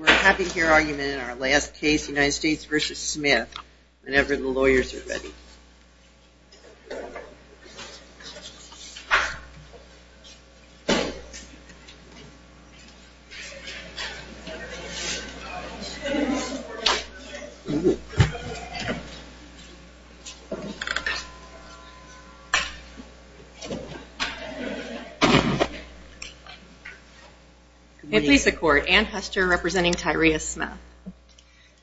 We're having here argument in our last case, United States v. Smith, whenever the lawyers are ready. And please support. Ann Hester representing Tyrius Smith.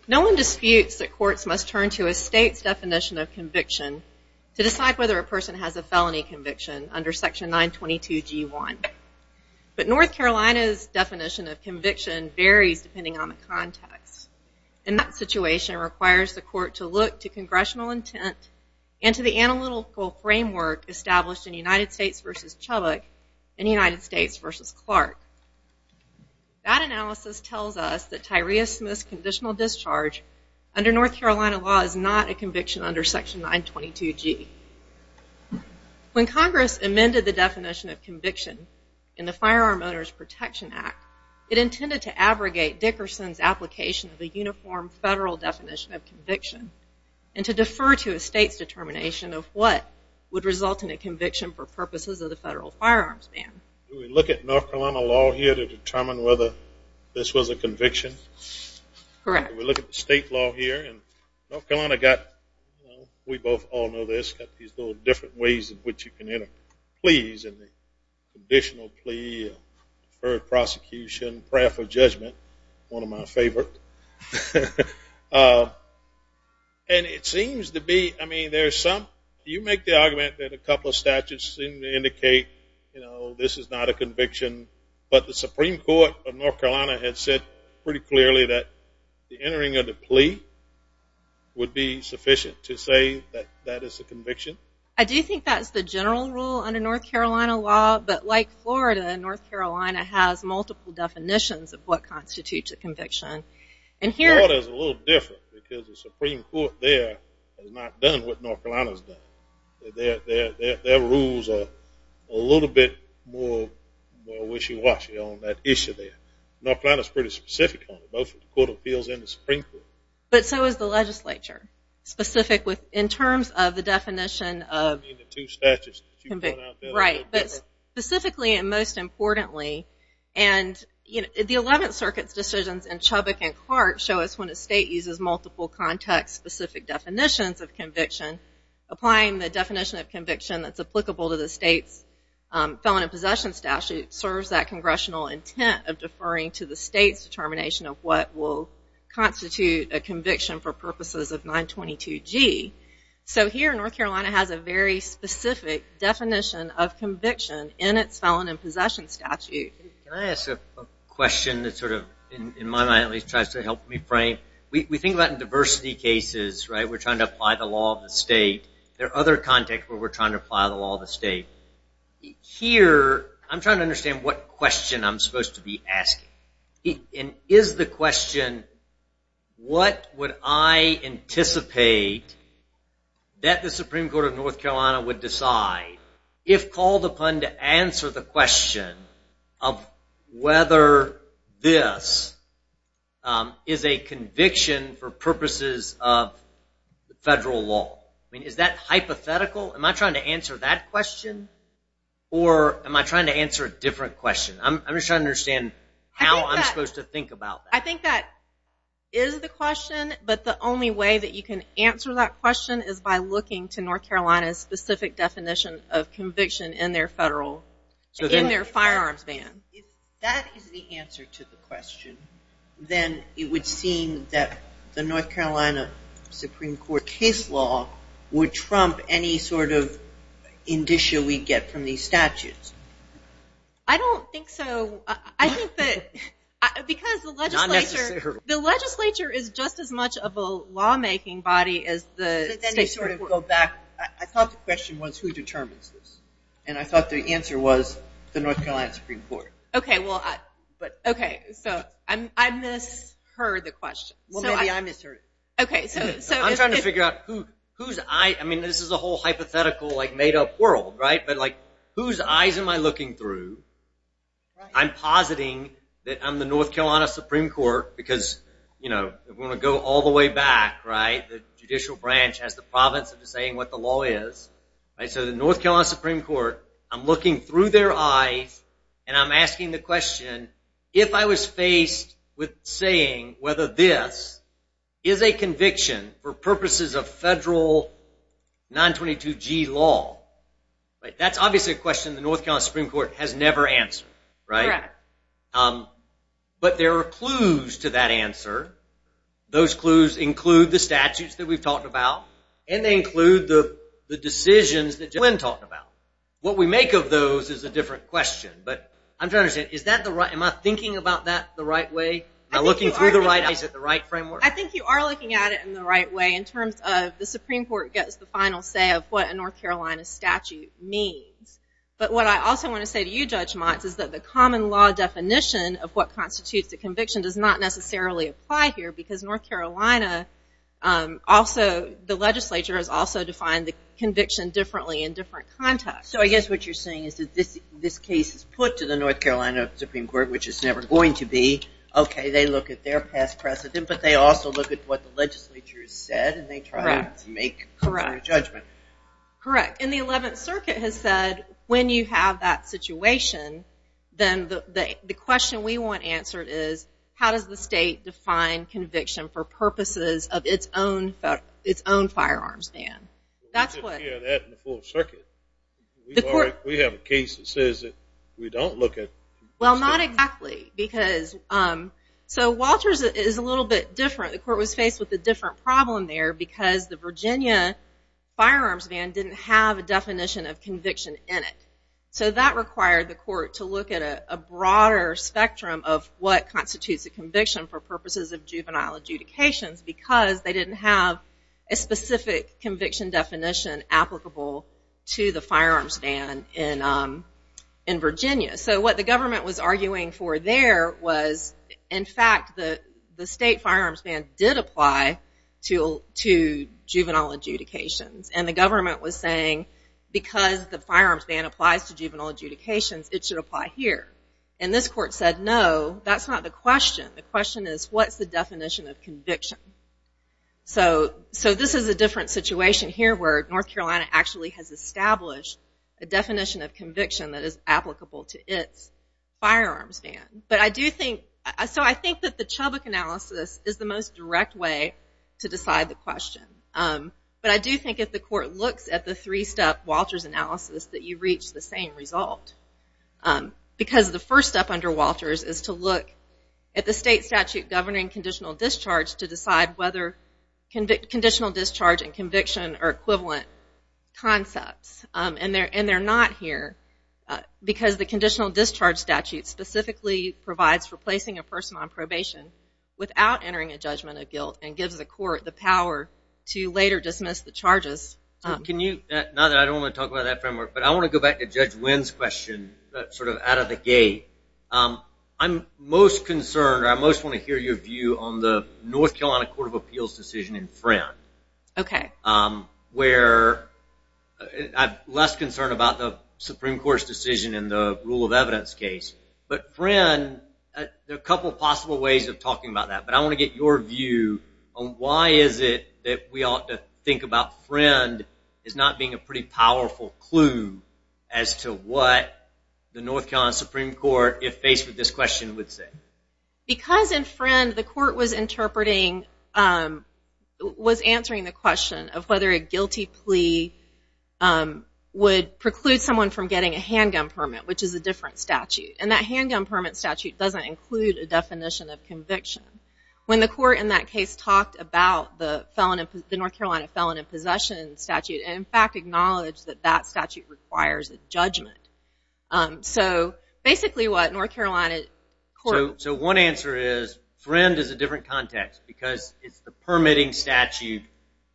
No one disputes that courts must turn to a state's definition of conviction to decide whether a person has a felony conviction under section 922 G1. But North Carolina's definition of conviction varies depending on the context. And that situation requires the court to look to congressional intent and to the analytical framework established in United States v. Chubbuck and United States v. Clark. That analysis tells us that Tyrius Smith's conditional discharge under North Carolina law is not a conviction under section 922 G. When Congress amended the definition of conviction in the Firearm Owners Protection Act, it intended to abrogate Dickerson's application of a uniform federal definition of conviction and to defer to a state's determination of what would result in a conviction for purposes of the federal firearms ban. Do we look at North Carolina law here to determine whether this was a conviction? Correct. Do we look at the state law here? And North Carolina got, we both all know this, got these little different ways in which you can enter. Pleas, additional plea, deferred prosecution, prayer for judgment, one of my favorites. And it seems to be, I mean, there's some, you make the argument that a couple of statutes seem to indicate, you know, this is not a conviction. But the Supreme Court of North Carolina had said pretty clearly that the entering of the plea would be sufficient to say that that is a conviction. I do think that's the general rule under North Carolina law, but like Florida, North Carolina has multiple definitions of what constitutes a conviction. And Florida's a little different because the Supreme Court there has not done what North Carolina's done. Their rules are a little bit more wishy-washy on that issue there. North Carolina's pretty specific on it, both with the Court of Appeals and the Supreme Court. But so is the legislature. Specific with, in terms of the definition of, right, but specifically and most importantly, and the Eleventh Circuit's decisions in Chubbuck and Carte show us when a state uses multiple context-specific definitions of conviction, applying the definition of conviction that's applicable to the state's felon in possession statute serves that congressional intent of deferring to the state's determination of what will constitute a conviction for purposes of 922G. So here, North Carolina has a very specific definition of conviction in its felon in possession statute. Can I ask a question that sort of, in my mind at least, tries to help me frame? We think about diversity cases, right? We're trying to apply the law of the state. There are other contexts where we're trying to apply the law of the state. Here, I'm trying to understand what question I'm supposed to be asking. Is the question, what would I anticipate that the Supreme Court of North Carolina would decide if called upon to answer the question of whether this is a conviction for purposes of federal law? Is that hypothetical? Am I trying to answer that question, or am I trying to answer a different question? I'm just trying to understand how I'm supposed to think about that. I think that is the question, but the only way that you can answer that question is by looking to North Carolina's specific definition of conviction in their firearms ban. If that is the answer to the question, then it would seem that the North Carolina Supreme Court case law would trump any sort of indicia we get from these statutes. I don't think so. I think that because the legislature is just as much of a lawmaking body as the state Supreme Court. Then you sort of go back. I thought the question was who determines this, and I thought the answer was the North Carolina Supreme Court. Okay, so I misheard the question. Well, maybe I misheard it. I'm trying to figure out, this is a whole hypothetical made-up world, but whose eyes am I looking through? I'm positing that I'm the North Carolina Supreme Court because if we want to go all the way back, the judicial branch has the province of saying what the law is. So the North Carolina Supreme Court, I'm looking through their eyes, and I'm asking the question, if I was faced with saying whether this is a conviction for purposes of federal 922G law, that's obviously a question the North Carolina Supreme Court has never answered, right? Correct. But there are clues to that answer. Those clues include the statutes that we've talked about, and they include the decisions that JoLynn talked about. What we make of those is a different question. But I'm trying to understand, am I thinking about that the right way? Am I looking through the right eyes at the right framework? I think you are looking at it in the right way in terms of the Supreme Court gets the final say of what a North Carolina statute means. But what I also want to say to you, Judge Motz, is that the common law definition of what constitutes a conviction does not necessarily apply here because the legislature has also defined the conviction differently in different contexts. So I guess what you're saying is that this case is put to the North Carolina Supreme Court, which it's never going to be. Okay, they look at their past precedent, but they also look at what the legislature has said and they try to make a judgment. Correct. And the 11th Circuit has said when you have that situation, then the question we want answered is, how does the state define conviction for purposes of its own firearms ban? We didn't hear that in the 4th Circuit. We have a case that says that we don't look at conviction. Well, not exactly. So Walters is a little bit different. The court was faced with a different problem there because the Virginia firearms ban didn't have a definition of conviction in it. So that required the court to look at a broader spectrum of what constitutes a conviction for purposes of juvenile adjudications because they didn't have a specific conviction definition applicable to the firearms ban in Virginia. So what the government was arguing for there was, in fact, the state firearms ban did apply to juvenile adjudications. And the government was saying because the firearms ban applies to juvenile adjudications, it should apply here. And this court said, no, that's not the question. The question is, what's the definition of conviction? So this is a different situation here where North Carolina actually has established a definition of conviction that is applicable to its firearms ban. So I think that the Chubbuck analysis is the most direct way to decide the question. But I do think if the court looks at the three-step Walters analysis that you reach the same result because the first step under Walters is to look at the state statute governing conditional discharge to decide whether conditional discharge and conviction are equivalent concepts. And they're not here because the conditional discharge statute specifically provides for placing a person on probation without entering a judgment of guilt and gives the court the power to later dismiss the charges. Now that I don't want to talk about that framework, but I want to go back to Judge Wynn's question sort of out of the gate. I'm most concerned or I most want to hear your view on the North Carolina Court of Appeals decision in Friend. Okay. Where I'm less concerned about the Supreme Court's decision in the rule of evidence case. But Friend, there are a couple of possible ways of talking about that. But I want to get your view on why is it that we ought to think about Friend as not being a pretty powerful clue as to what the North Carolina Supreme Court, if faced with this question, would say. Because in Friend the court was interpreting, was answering the question of whether a guilty plea would preclude someone from getting a handgun permit, which is a different statute. And that handgun permit statute doesn't include a definition of conviction. When the court in that case talked about the North Carolina Felon in Possession statute, and in fact acknowledged that that statute requires a judgment. So basically what North Carolina court... So one answer is Friend is a different context because it's the permitting statute.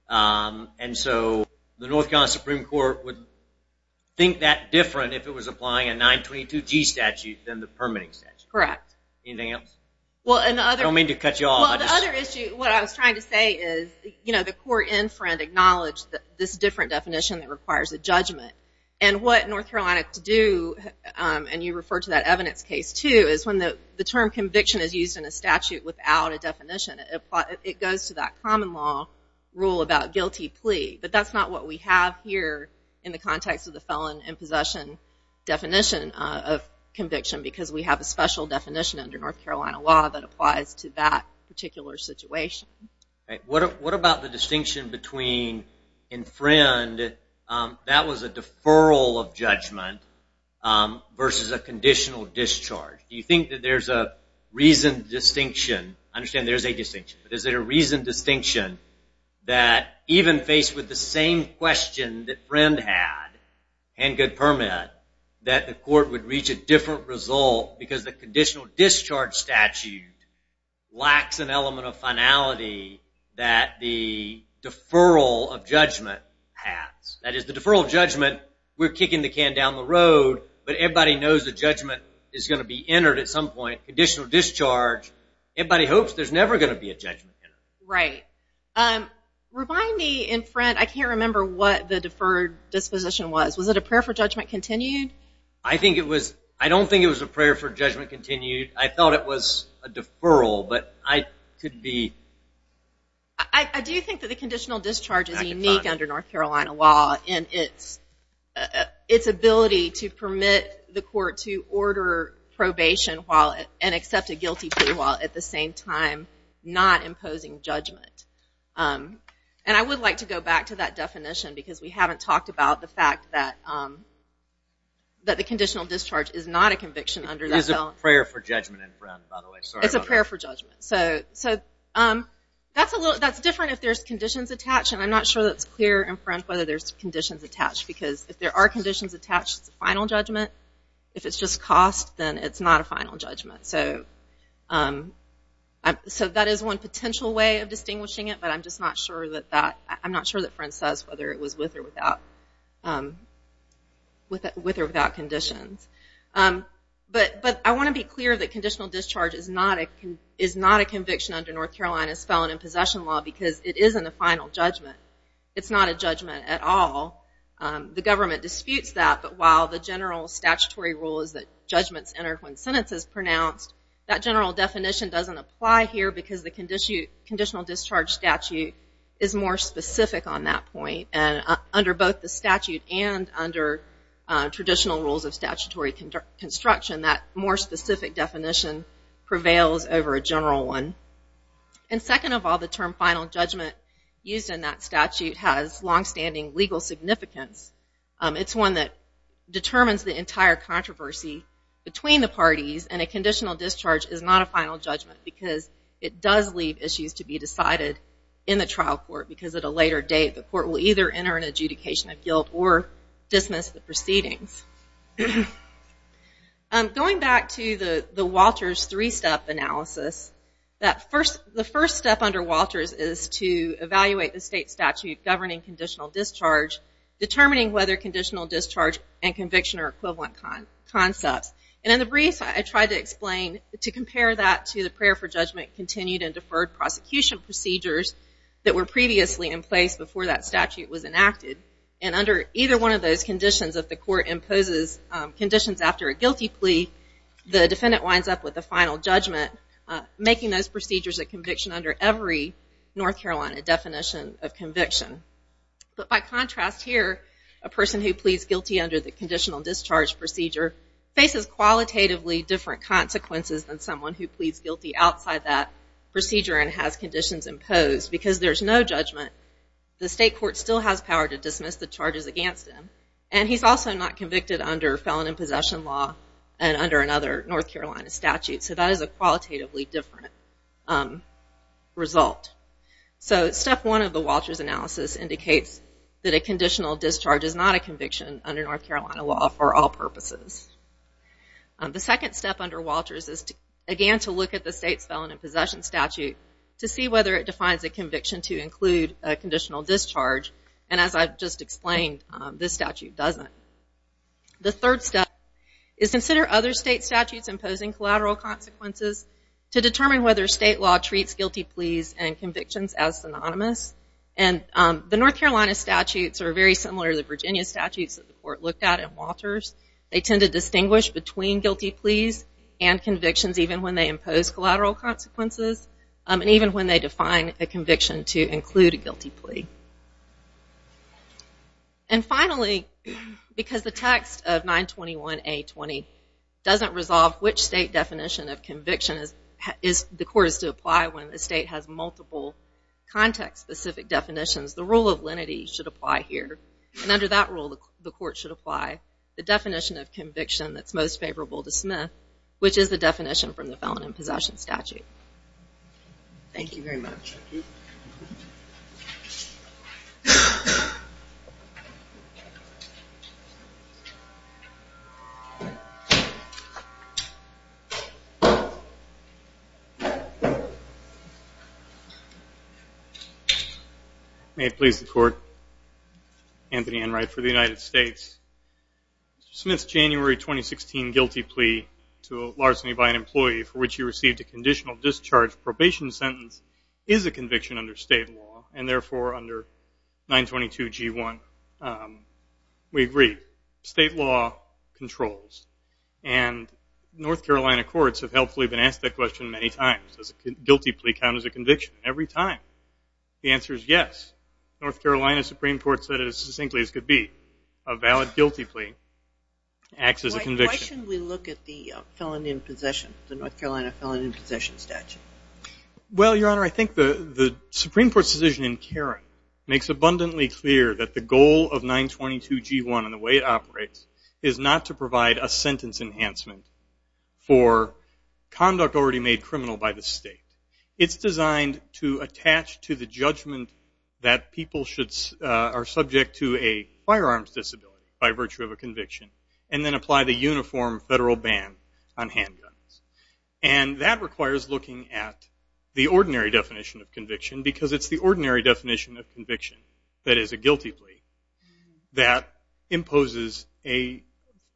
And so the North Carolina Supreme Court would think that different if it was applying a 922G statute than the permitting statute. Correct. Anything else? I don't mean to cut you off. Well, the other issue, what I was trying to say is the court in Friend acknowledged this different definition that requires a judgment. And what North Carolina could do, and you referred to that evidence case too, is when the term conviction is used in a statute without a definition, it goes to that common law rule about guilty plea. But that's not what we have here in the context of the Felon in Possession definition of conviction because we have a special definition under North Carolina law that applies to that particular situation. What about the distinction between in Friend that was a deferral of judgment versus a conditional discharge? Do you think that there's a reasoned distinction? I understand there's a distinction, but is there a reasoned distinction that even faced with the same question that Friend had, and good permit, that the court would reach a different result because the conditional discharge statute lacks an element of finality that the deferral of judgment has? That is, the deferral of judgment, we're kicking the can down the road, but everybody knows the judgment is going to be entered at some point. Conditional discharge, everybody hopes there's never going to be a judgment. Right. Remind me, in Friend, I can't remember what the deferred disposition was. Was it a prayer for judgment continued? I don't think it was a prayer for judgment continued. I thought it was a deferral, but I could be... I do think that the conditional discharge is unique under North Carolina law in its ability to permit the court to order probation and accept a guilty plea while at the same time not imposing judgment. And I would like to go back to that definition because we haven't talked about the fact that the conditional discharge is not a conviction under that law. It is a prayer for judgment in Friend, by the way. It's a prayer for judgment. That's different if there's conditions attached, and I'm not sure that's clear in Friend whether there's conditions attached because if there are conditions attached, it's a final judgment. If it's just cost, then it's not a final judgment. So that is one potential way of distinguishing it, but I'm just not sure that Friend says whether it was with or without conditions. But I want to be clear that conditional discharge is not a conviction under North Carolina's felon in possession law because it isn't a final judgment. It's not a judgment at all. The government disputes that, but while the general statutory rule is that judgments enter when sentence is pronounced, that general definition doesn't apply here because the conditional discharge statute is more specific on that point. And under both the statute and under traditional rules of statutory construction, that more specific definition prevails over a general one. And second of all, the term final judgment used in that statute has longstanding legal significance. It's one that determines the entire controversy between the parties, and a conditional discharge is not a final judgment because it does leave issues to be decided in the trial court because at a later date the court will either enter an adjudication of guilt or dismiss the proceedings. Going back to the Walters three-step analysis, the first step under Walters is to evaluate the state statute governing conditional discharge, determining whether conditional discharge and conviction are equivalent concepts. And in the brief, I tried to explain, to compare that to the prayer for judgment continued and deferred prosecution procedures that were previously in place before that statute was enacted. And under either one of those conditions, if the court imposes conditions after a guilty plea, the defendant winds up with a final judgment, making those procedures a conviction under every North Carolina definition of conviction. But by contrast here, a person who pleads guilty under the conditional discharge procedure faces qualitatively different consequences than someone who pleads guilty outside that procedure and has conditions imposed. Because there's no judgment, the state court still has power to dismiss the charges against him. And he's also not convicted under felon in possession law and under another North Carolina statute. So that is a qualitatively different result. So step one of the Walters analysis indicates that a conditional discharge is not a conviction under North Carolina law for all purposes. The second step under Walters is, again, to look at the state's felon in possession statute to see whether it defines a conviction to include a conditional discharge. And as I've just explained, this statute doesn't. The third step is to consider other state statutes imposing collateral consequences to determine whether state law treats guilty pleas and convictions as synonymous. And the North Carolina statutes are very similar to the Virginia statutes that the court looked at in Walters. They tend to distinguish between guilty pleas and convictions even when they impose collateral consequences and even when they define a conviction to include a guilty plea. And finally, because the text of 921A20 doesn't resolve which state definition of conviction the court is to apply when the state has multiple context-specific definitions, the rule of lenity should apply here. which is the definition from the felon in possession statute. Thank you very much. May it please the court. Anthony Enright for the United States. Mr. Smith's January 2016 guilty plea to larceny by an employee for which he received a conditional discharge probation sentence is a conviction under state law and therefore under 922G1. We agree. State law controls. And North Carolina courts have helpfully been asked that question many times. Does a guilty plea count as a conviction? Every time. The answer is yes. North Carolina Supreme Court said it as succinctly as could be. A valid guilty plea acts as a conviction. Why shouldn't we look at the felon in possession, the North Carolina felon in possession statute? Well, Your Honor, I think the Supreme Court's decision in Karen makes abundantly clear that the goal of 922G1 and the way it operates is not to provide a sentence enhancement for conduct already made criminal by the state. It's designed to attach to the judgment that people are subject to a firearms disability by virtue of a conviction and then apply the uniform federal ban on handguns. And that requires looking at the ordinary definition of conviction because it's the ordinary definition of conviction that is a guilty plea that imposes a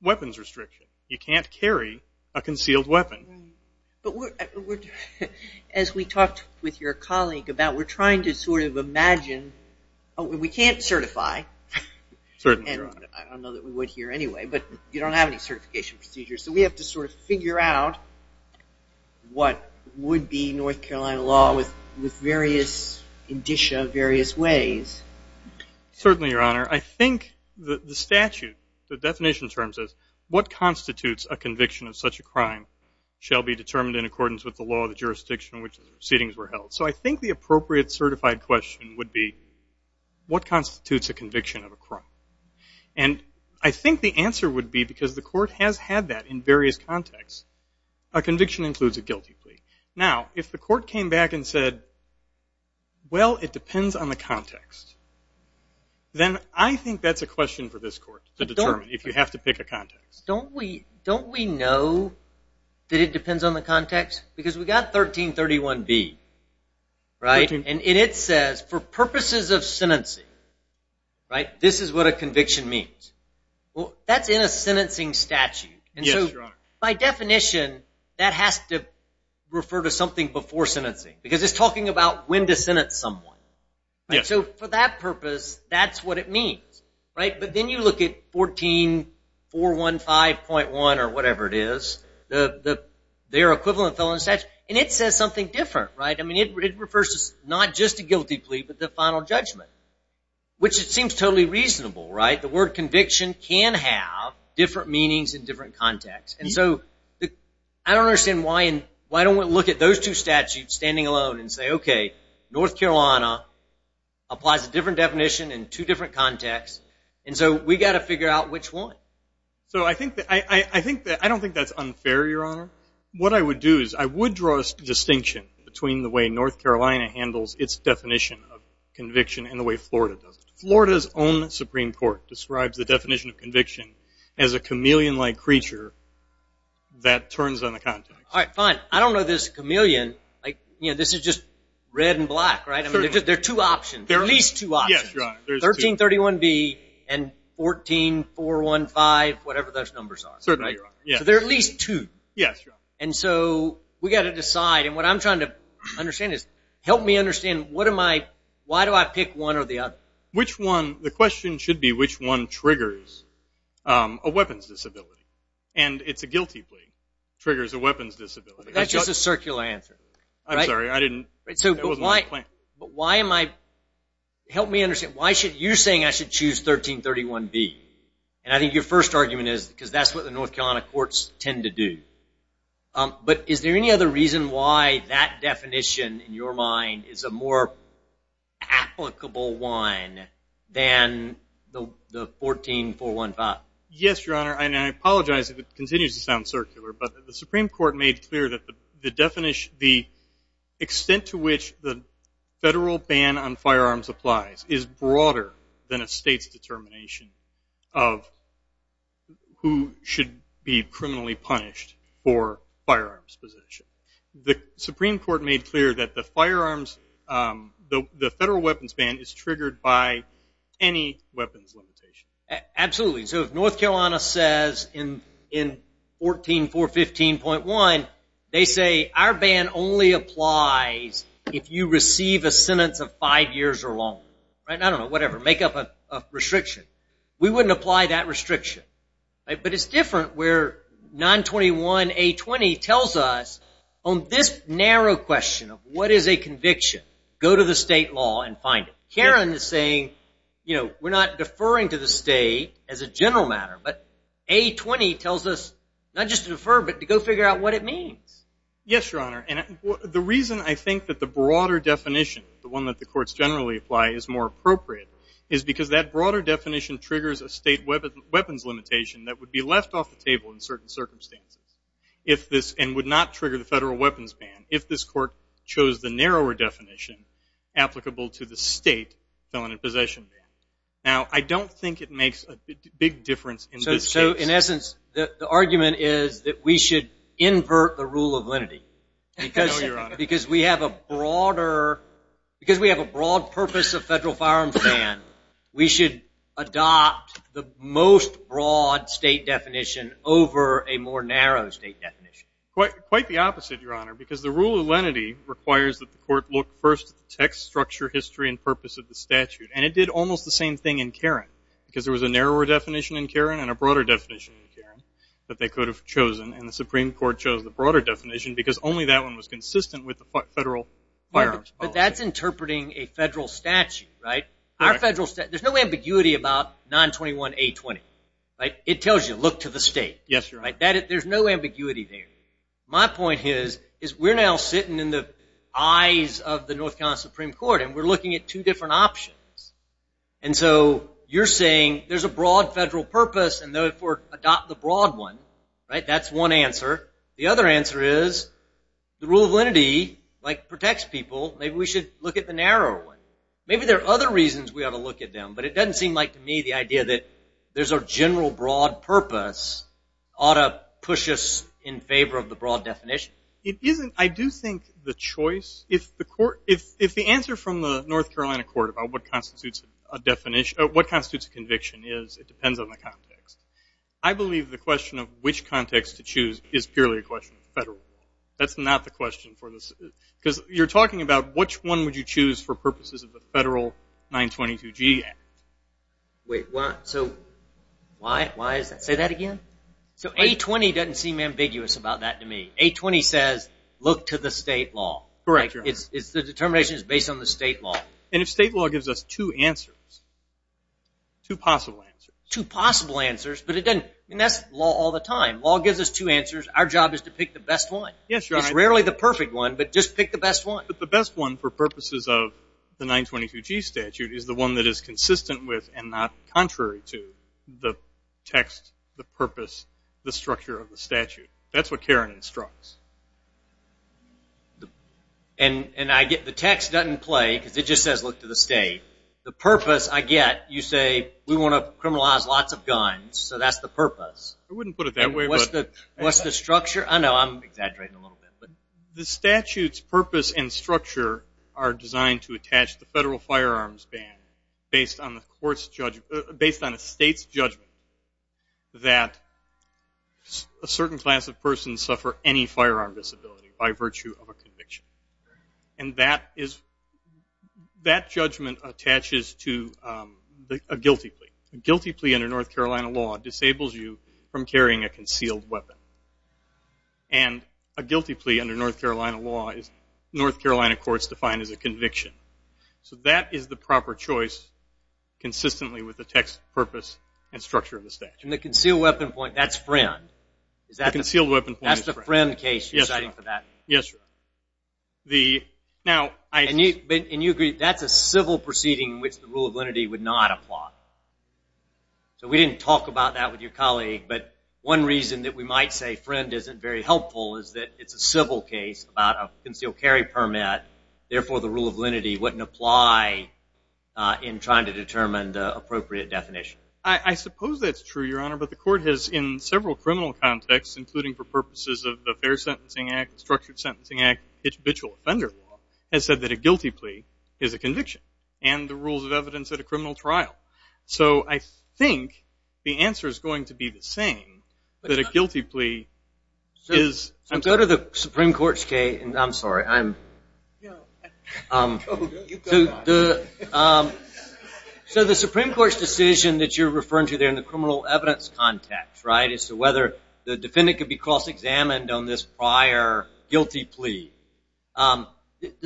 weapons restriction. You can't carry a concealed weapon. But as we talked with your colleague about, we're trying to sort of imagine... We can't certify. I don't know that we would here anyway, but you don't have any certification procedures. So we have to sort of figure out what would be North Carolina law with various indicia, various ways. Certainly, Your Honor. I think the statute, the definition in terms of what constitutes a conviction of such a crime shall be determined in accordance with the law of the jurisdiction in which the proceedings were held. So I think the appropriate certified question would be what constitutes a conviction of a crime? And I think the answer would be, because the court has had that in various contexts, a conviction includes a guilty plea. Now, if the court came back and said, well, it depends on the context, then I think that's a question for this court to determine if you have to pick a context. Don't we know that it depends on the context? Because we've got 1331B. And it says, for purposes of sentencing, this is what a conviction means. Well, that's in a sentencing statute. And so by definition, that has to refer to something before sentencing because it's talking about when to sentence someone. So for that purpose, that's what it means. But then you look at 14415.1 or whatever it is, their equivalent felon statute, and it says something different. I mean, it refers to not just a guilty plea but the final judgment, which it seems totally reasonable. The word conviction can have different meanings in different contexts. And so I don't understand why I don't want to look at those two statutes standing alone and say, okay, North Carolina applies a different definition in two different contexts. And so we've got to figure out which one. So I don't think that's unfair, Your Honor. What I would do is I would draw a distinction between the way North Carolina handles its definition of conviction and the way Florida does it. Florida's own Supreme Court describes the definition of conviction as a chameleon-like creature that turns on the context. All right, fine. I don't know this chameleon. This is just red and black, right? There are two options, at least two options. Yes, Your Honor. 1331B and 14415, whatever those numbers are. Certainly, Your Honor. So there are at least two. Yes, Your Honor. And so we've got to decide. And what I'm trying to understand is help me understand why do I pick one or the other? Which one? The question should be which one triggers a weapons disability. And it's a guilty plea triggers a weapons disability. That's just a circular answer. I'm sorry. But why am I – help me understand. You're saying I should choose 1331B. And I think your first argument is because that's what the North Carolina courts tend to do. But is there any other reason why that definition, in your mind, is a more applicable one than the 14415? Yes, Your Honor. And I apologize if it continues to sound circular. But the Supreme Court made clear that the extent to which the federal ban on firearms applies is broader than a state's determination of who should be criminally punished for firearms possession. The Supreme Court made clear that the firearms, the federal weapons ban, is triggered by any weapons limitation. Absolutely. So if North Carolina says in 14415.1, they say our ban only applies if you receive a sentence of five years or longer. I don't know. Whatever. Make up a restriction. We wouldn't apply that restriction. But it's different where 921A20 tells us on this narrow question of what is a conviction, go to the state law and find it. Karen is saying we're not deferring to the state as a general matter. But A20 tells us not just to defer, but to go figure out what it means. Yes, Your Honor. And the reason I think that the broader definition, the one that the courts generally apply, is more appropriate is because that broader definition triggers a state weapons limitation that would be left off the table in certain circumstances and would not trigger the federal weapons ban if this court chose the narrower definition applicable to the state felony possession ban. Now, I don't think it makes a big difference in this case. So, in essence, the argument is that we should invert the rule of lenity. No, Your Honor. Because we have a broader – because we have a broad purpose of federal firearms ban, we should adopt the most broad state definition over a more narrow state definition. Quite the opposite, Your Honor, because the rule of lenity requires that the court look first at the text, structure, history, and purpose of the statute. And it did almost the same thing in Karen, because there was a narrower definition in Karen and a broader definition in Karen that they could have chosen. And the Supreme Court chose the broader definition because only that one was consistent with the federal firearms policy. But that's interpreting a federal statute, right? There's no ambiguity about 921A20, right? It tells you, look to the state. Yes, Your Honor. There's no ambiguity there. My point is we're now sitting in the eyes of the North Carolina Supreme Court, and we're looking at two different options. And so you're saying there's a broad federal purpose and, therefore, adopt the broad one, right? That's one answer. The other answer is the rule of lenity, like, protects people. Maybe we should look at the narrower one. Maybe there are other reasons we ought to look at them, but it doesn't seem like to me the idea that there's a general broad purpose ought to push us in favor of the broad definition. It isn't. I do think the choice, if the answer from the North Carolina court about what constitutes a conviction is, it depends on the context. I believe the question of which context to choose is purely a question of the federal law. That's not the question for this. Because you're talking about which one would you choose for purposes of the federal 922G Act. Wait, so why is that? Say that again. So A20 doesn't seem ambiguous about that to me. A20 says look to the state law. Correct, Your Honor. The determination is based on the state law. And if state law gives us two answers, two possible answers. Two possible answers, but it doesn't. I mean, that's law all the time. Law gives us two answers. Our job is to pick the best one. Yes, Your Honor. It's rarely the perfect one, but just pick the best one. But the best one for purposes of the 922G statute is the one that is consistent with and not contrary to the text, the purpose, the structure of the statute. That's what Karen instructs. And I get the text doesn't play because it just says look to the state. The purpose I get, you say, we want to criminalize lots of guns, so that's the purpose. I wouldn't put it that way. What's the structure? Oh, no, I'm exaggerating a little bit. The statute's purpose and structure are designed to attach the federal firearms ban based on a state's judgment that a certain class of persons suffer any firearm disability by virtue of a conviction. And that judgment attaches to a guilty plea. A guilty plea under North Carolina law disables you from carrying a concealed weapon. And a guilty plea under North Carolina law is North Carolina courts define as a conviction. So that is the proper choice consistently with the text, purpose, and structure of the statute. And the concealed weapon point, that's Friend. The concealed weapon point is Friend. That's the Friend case you're citing for that. Yes, Your Honor. And you agree that's a civil proceeding in which the rule of lenity would not apply. So we didn't talk about that with your colleague, but one reason that we might say Friend isn't very helpful is that it's a civil case about a concealed carry permit, therefore the rule of lenity wouldn't apply in trying to determine the appropriate definition. I suppose that's true, Your Honor, but the court has in several criminal contexts, including for purposes of the Fair Sentencing Act, Structured Sentencing Act, and habitual offender law, has said that a guilty plea is a conviction and the rules of evidence at a criminal trial. So I think the answer is going to be the same, that a guilty plea is... So go to the Supreme Court's case. I'm sorry. So the Supreme Court's decision that you're referring to there in the criminal evidence context, right, so whether the defendant could be cross-examined on this prior guilty plea, the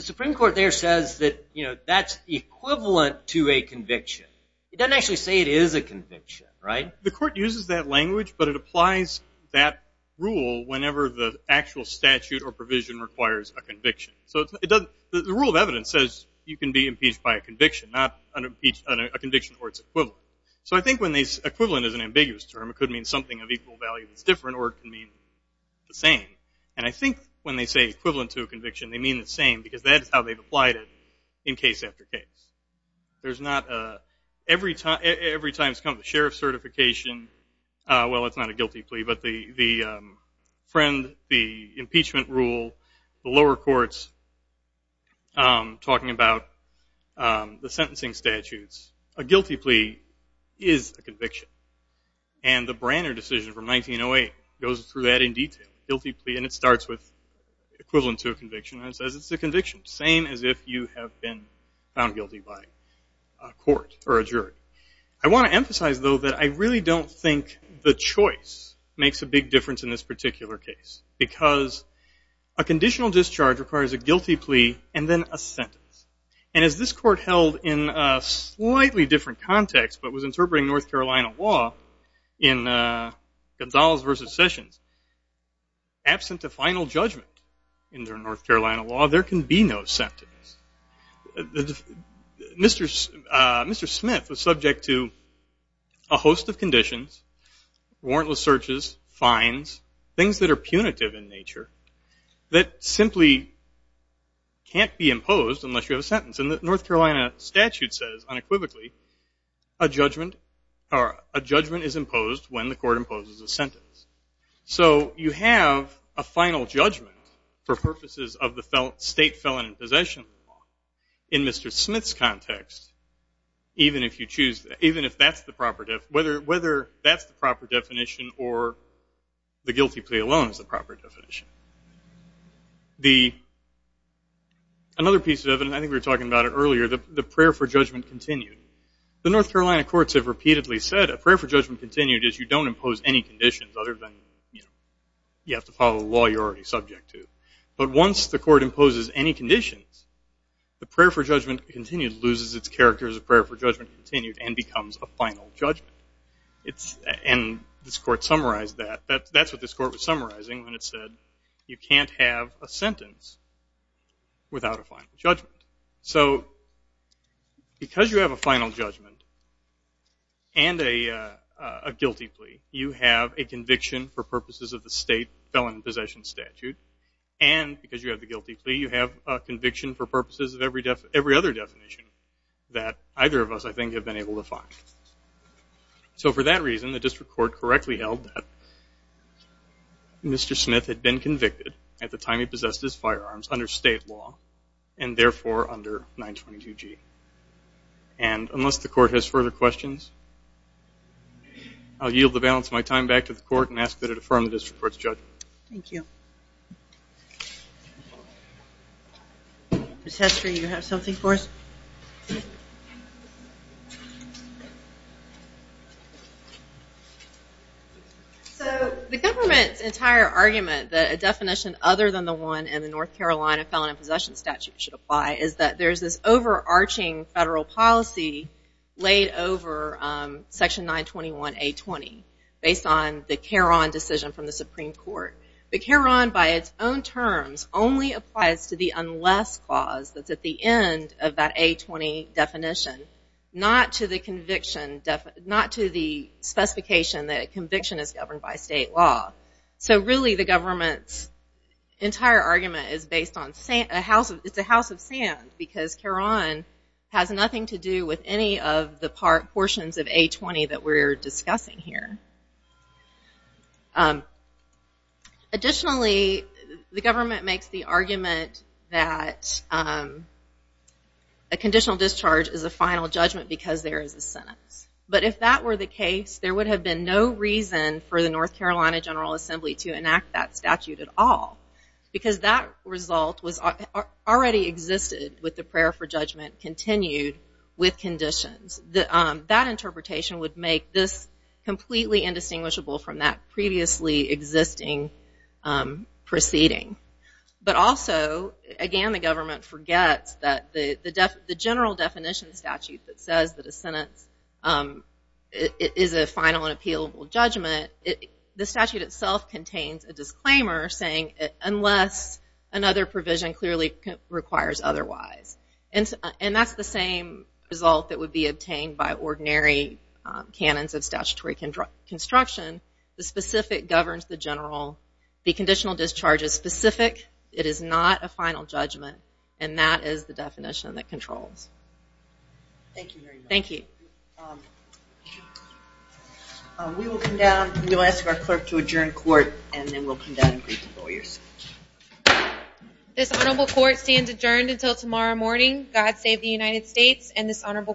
Supreme Court there says that that's equivalent to a conviction. It doesn't actually say it is a conviction, right? The court uses that language, but it applies that rule whenever the actual statute or provision requires a conviction. The rule of evidence says you can be impeached by a conviction, not a conviction where it's equivalent. So I think when they say equivalent is an ambiguous term. It could mean something of equal value that's different, or it could mean the same. And I think when they say equivalent to a conviction, they mean the same because that's how they've applied it in case after case. There's not a... Every time it's come to the sheriff's certification, well, it's not a guilty plea, but the friend, the impeachment rule, the lower courts talking about the sentencing statutes, a guilty plea is a conviction. And the Branner decision from 1908 goes through that in detail. Guilty plea, and it starts with equivalent to a conviction, and it says it's a conviction, same as if you have been found guilty by a court or a jury. I want to emphasize, though, that I really don't think the choice makes a big difference in this particular case because a conditional discharge requires a guilty plea and then a sentence. And as this court held in a slightly different context, but was interpreting North Carolina law in Gonzales v. Sessions, absent a final judgment in their North Carolina law, there can be no sentence. Mr. Smith was subject to a host of conditions, warrantless searches, fines, things that are punitive in nature that simply can't be imposed unless you have a sentence. And the North Carolina statute says, unequivocally, a judgment is imposed when the court imposes a sentence. So you have a final judgment for purposes of the state felon in possession law. In Mr. Smith's context, even if that's the proper definition or the guilty plea alone is the proper definition. Another piece of evidence, I think we were talking about it earlier, the prayer for judgment continued. The North Carolina courts have repeatedly said a prayer for judgment continued is you don't impose any conditions other than you have to follow the law you're already subject to. But once the court imposes any conditions, the prayer for judgment continued loses its character as a prayer for judgment continued and becomes a final judgment. And this court summarized that. That's what this court was summarizing when it said you can't have a sentence without a final judgment. So because you have a final judgment and a guilty plea, you have a conviction for purposes of the state felon in possession statute. And because you have the guilty plea, you have a conviction for purposes of every other definition that either of us, I think, have been able to find. So for that reason, the district court correctly held that Mr. Smith had been convicted at the time he possessed his firearms under state law and, therefore, under 922G. And unless the court has further questions, I'll yield the balance of my time back to the court and ask that it affirm the district court's judgment. Thank you. Ms. Hester, do you have something for us? So the government's entire argument that a definition other than the one in the North Carolina felon in possession statute should apply is that there's this overarching federal policy laid over Section 921A.20 based on the Caron decision from the Supreme Court. But Caron, by its own terms, only applies to the unless clause that's at the end of that A20 definition, not to the specification that a conviction is governed by state law. So really the government's entire argument is based on a house of sand because Caron has nothing to do with any of the portions of A20 that we're discussing here. Additionally, the government makes the argument that a conditional discharge is a final judgment because there is a sentence. But if that were the case, there would have been no reason for the North Carolina General Assembly to enact that statute at all because that result already existed with the prayer for judgment continued with conditions. That interpretation would make this completely indistinguishable from that previously existing proceeding. But also, again, the government forgets that the general definition statute that says that a sentence is a final and appealable judgment, the statute itself contains a disclaimer saying unless another provision clearly requires otherwise. And that's the same result that would be obtained by ordinary canons of statutory construction. The specific governs the general. The conditional discharge is specific. It is not a final judgment, and that is the definition that controls. Thank you very much. Thank you. We will ask our clerk to adjourn court, and then we'll come down and greet the lawyers. This honorable court stands adjourned until tomorrow morning. God save the United States and this honorable court.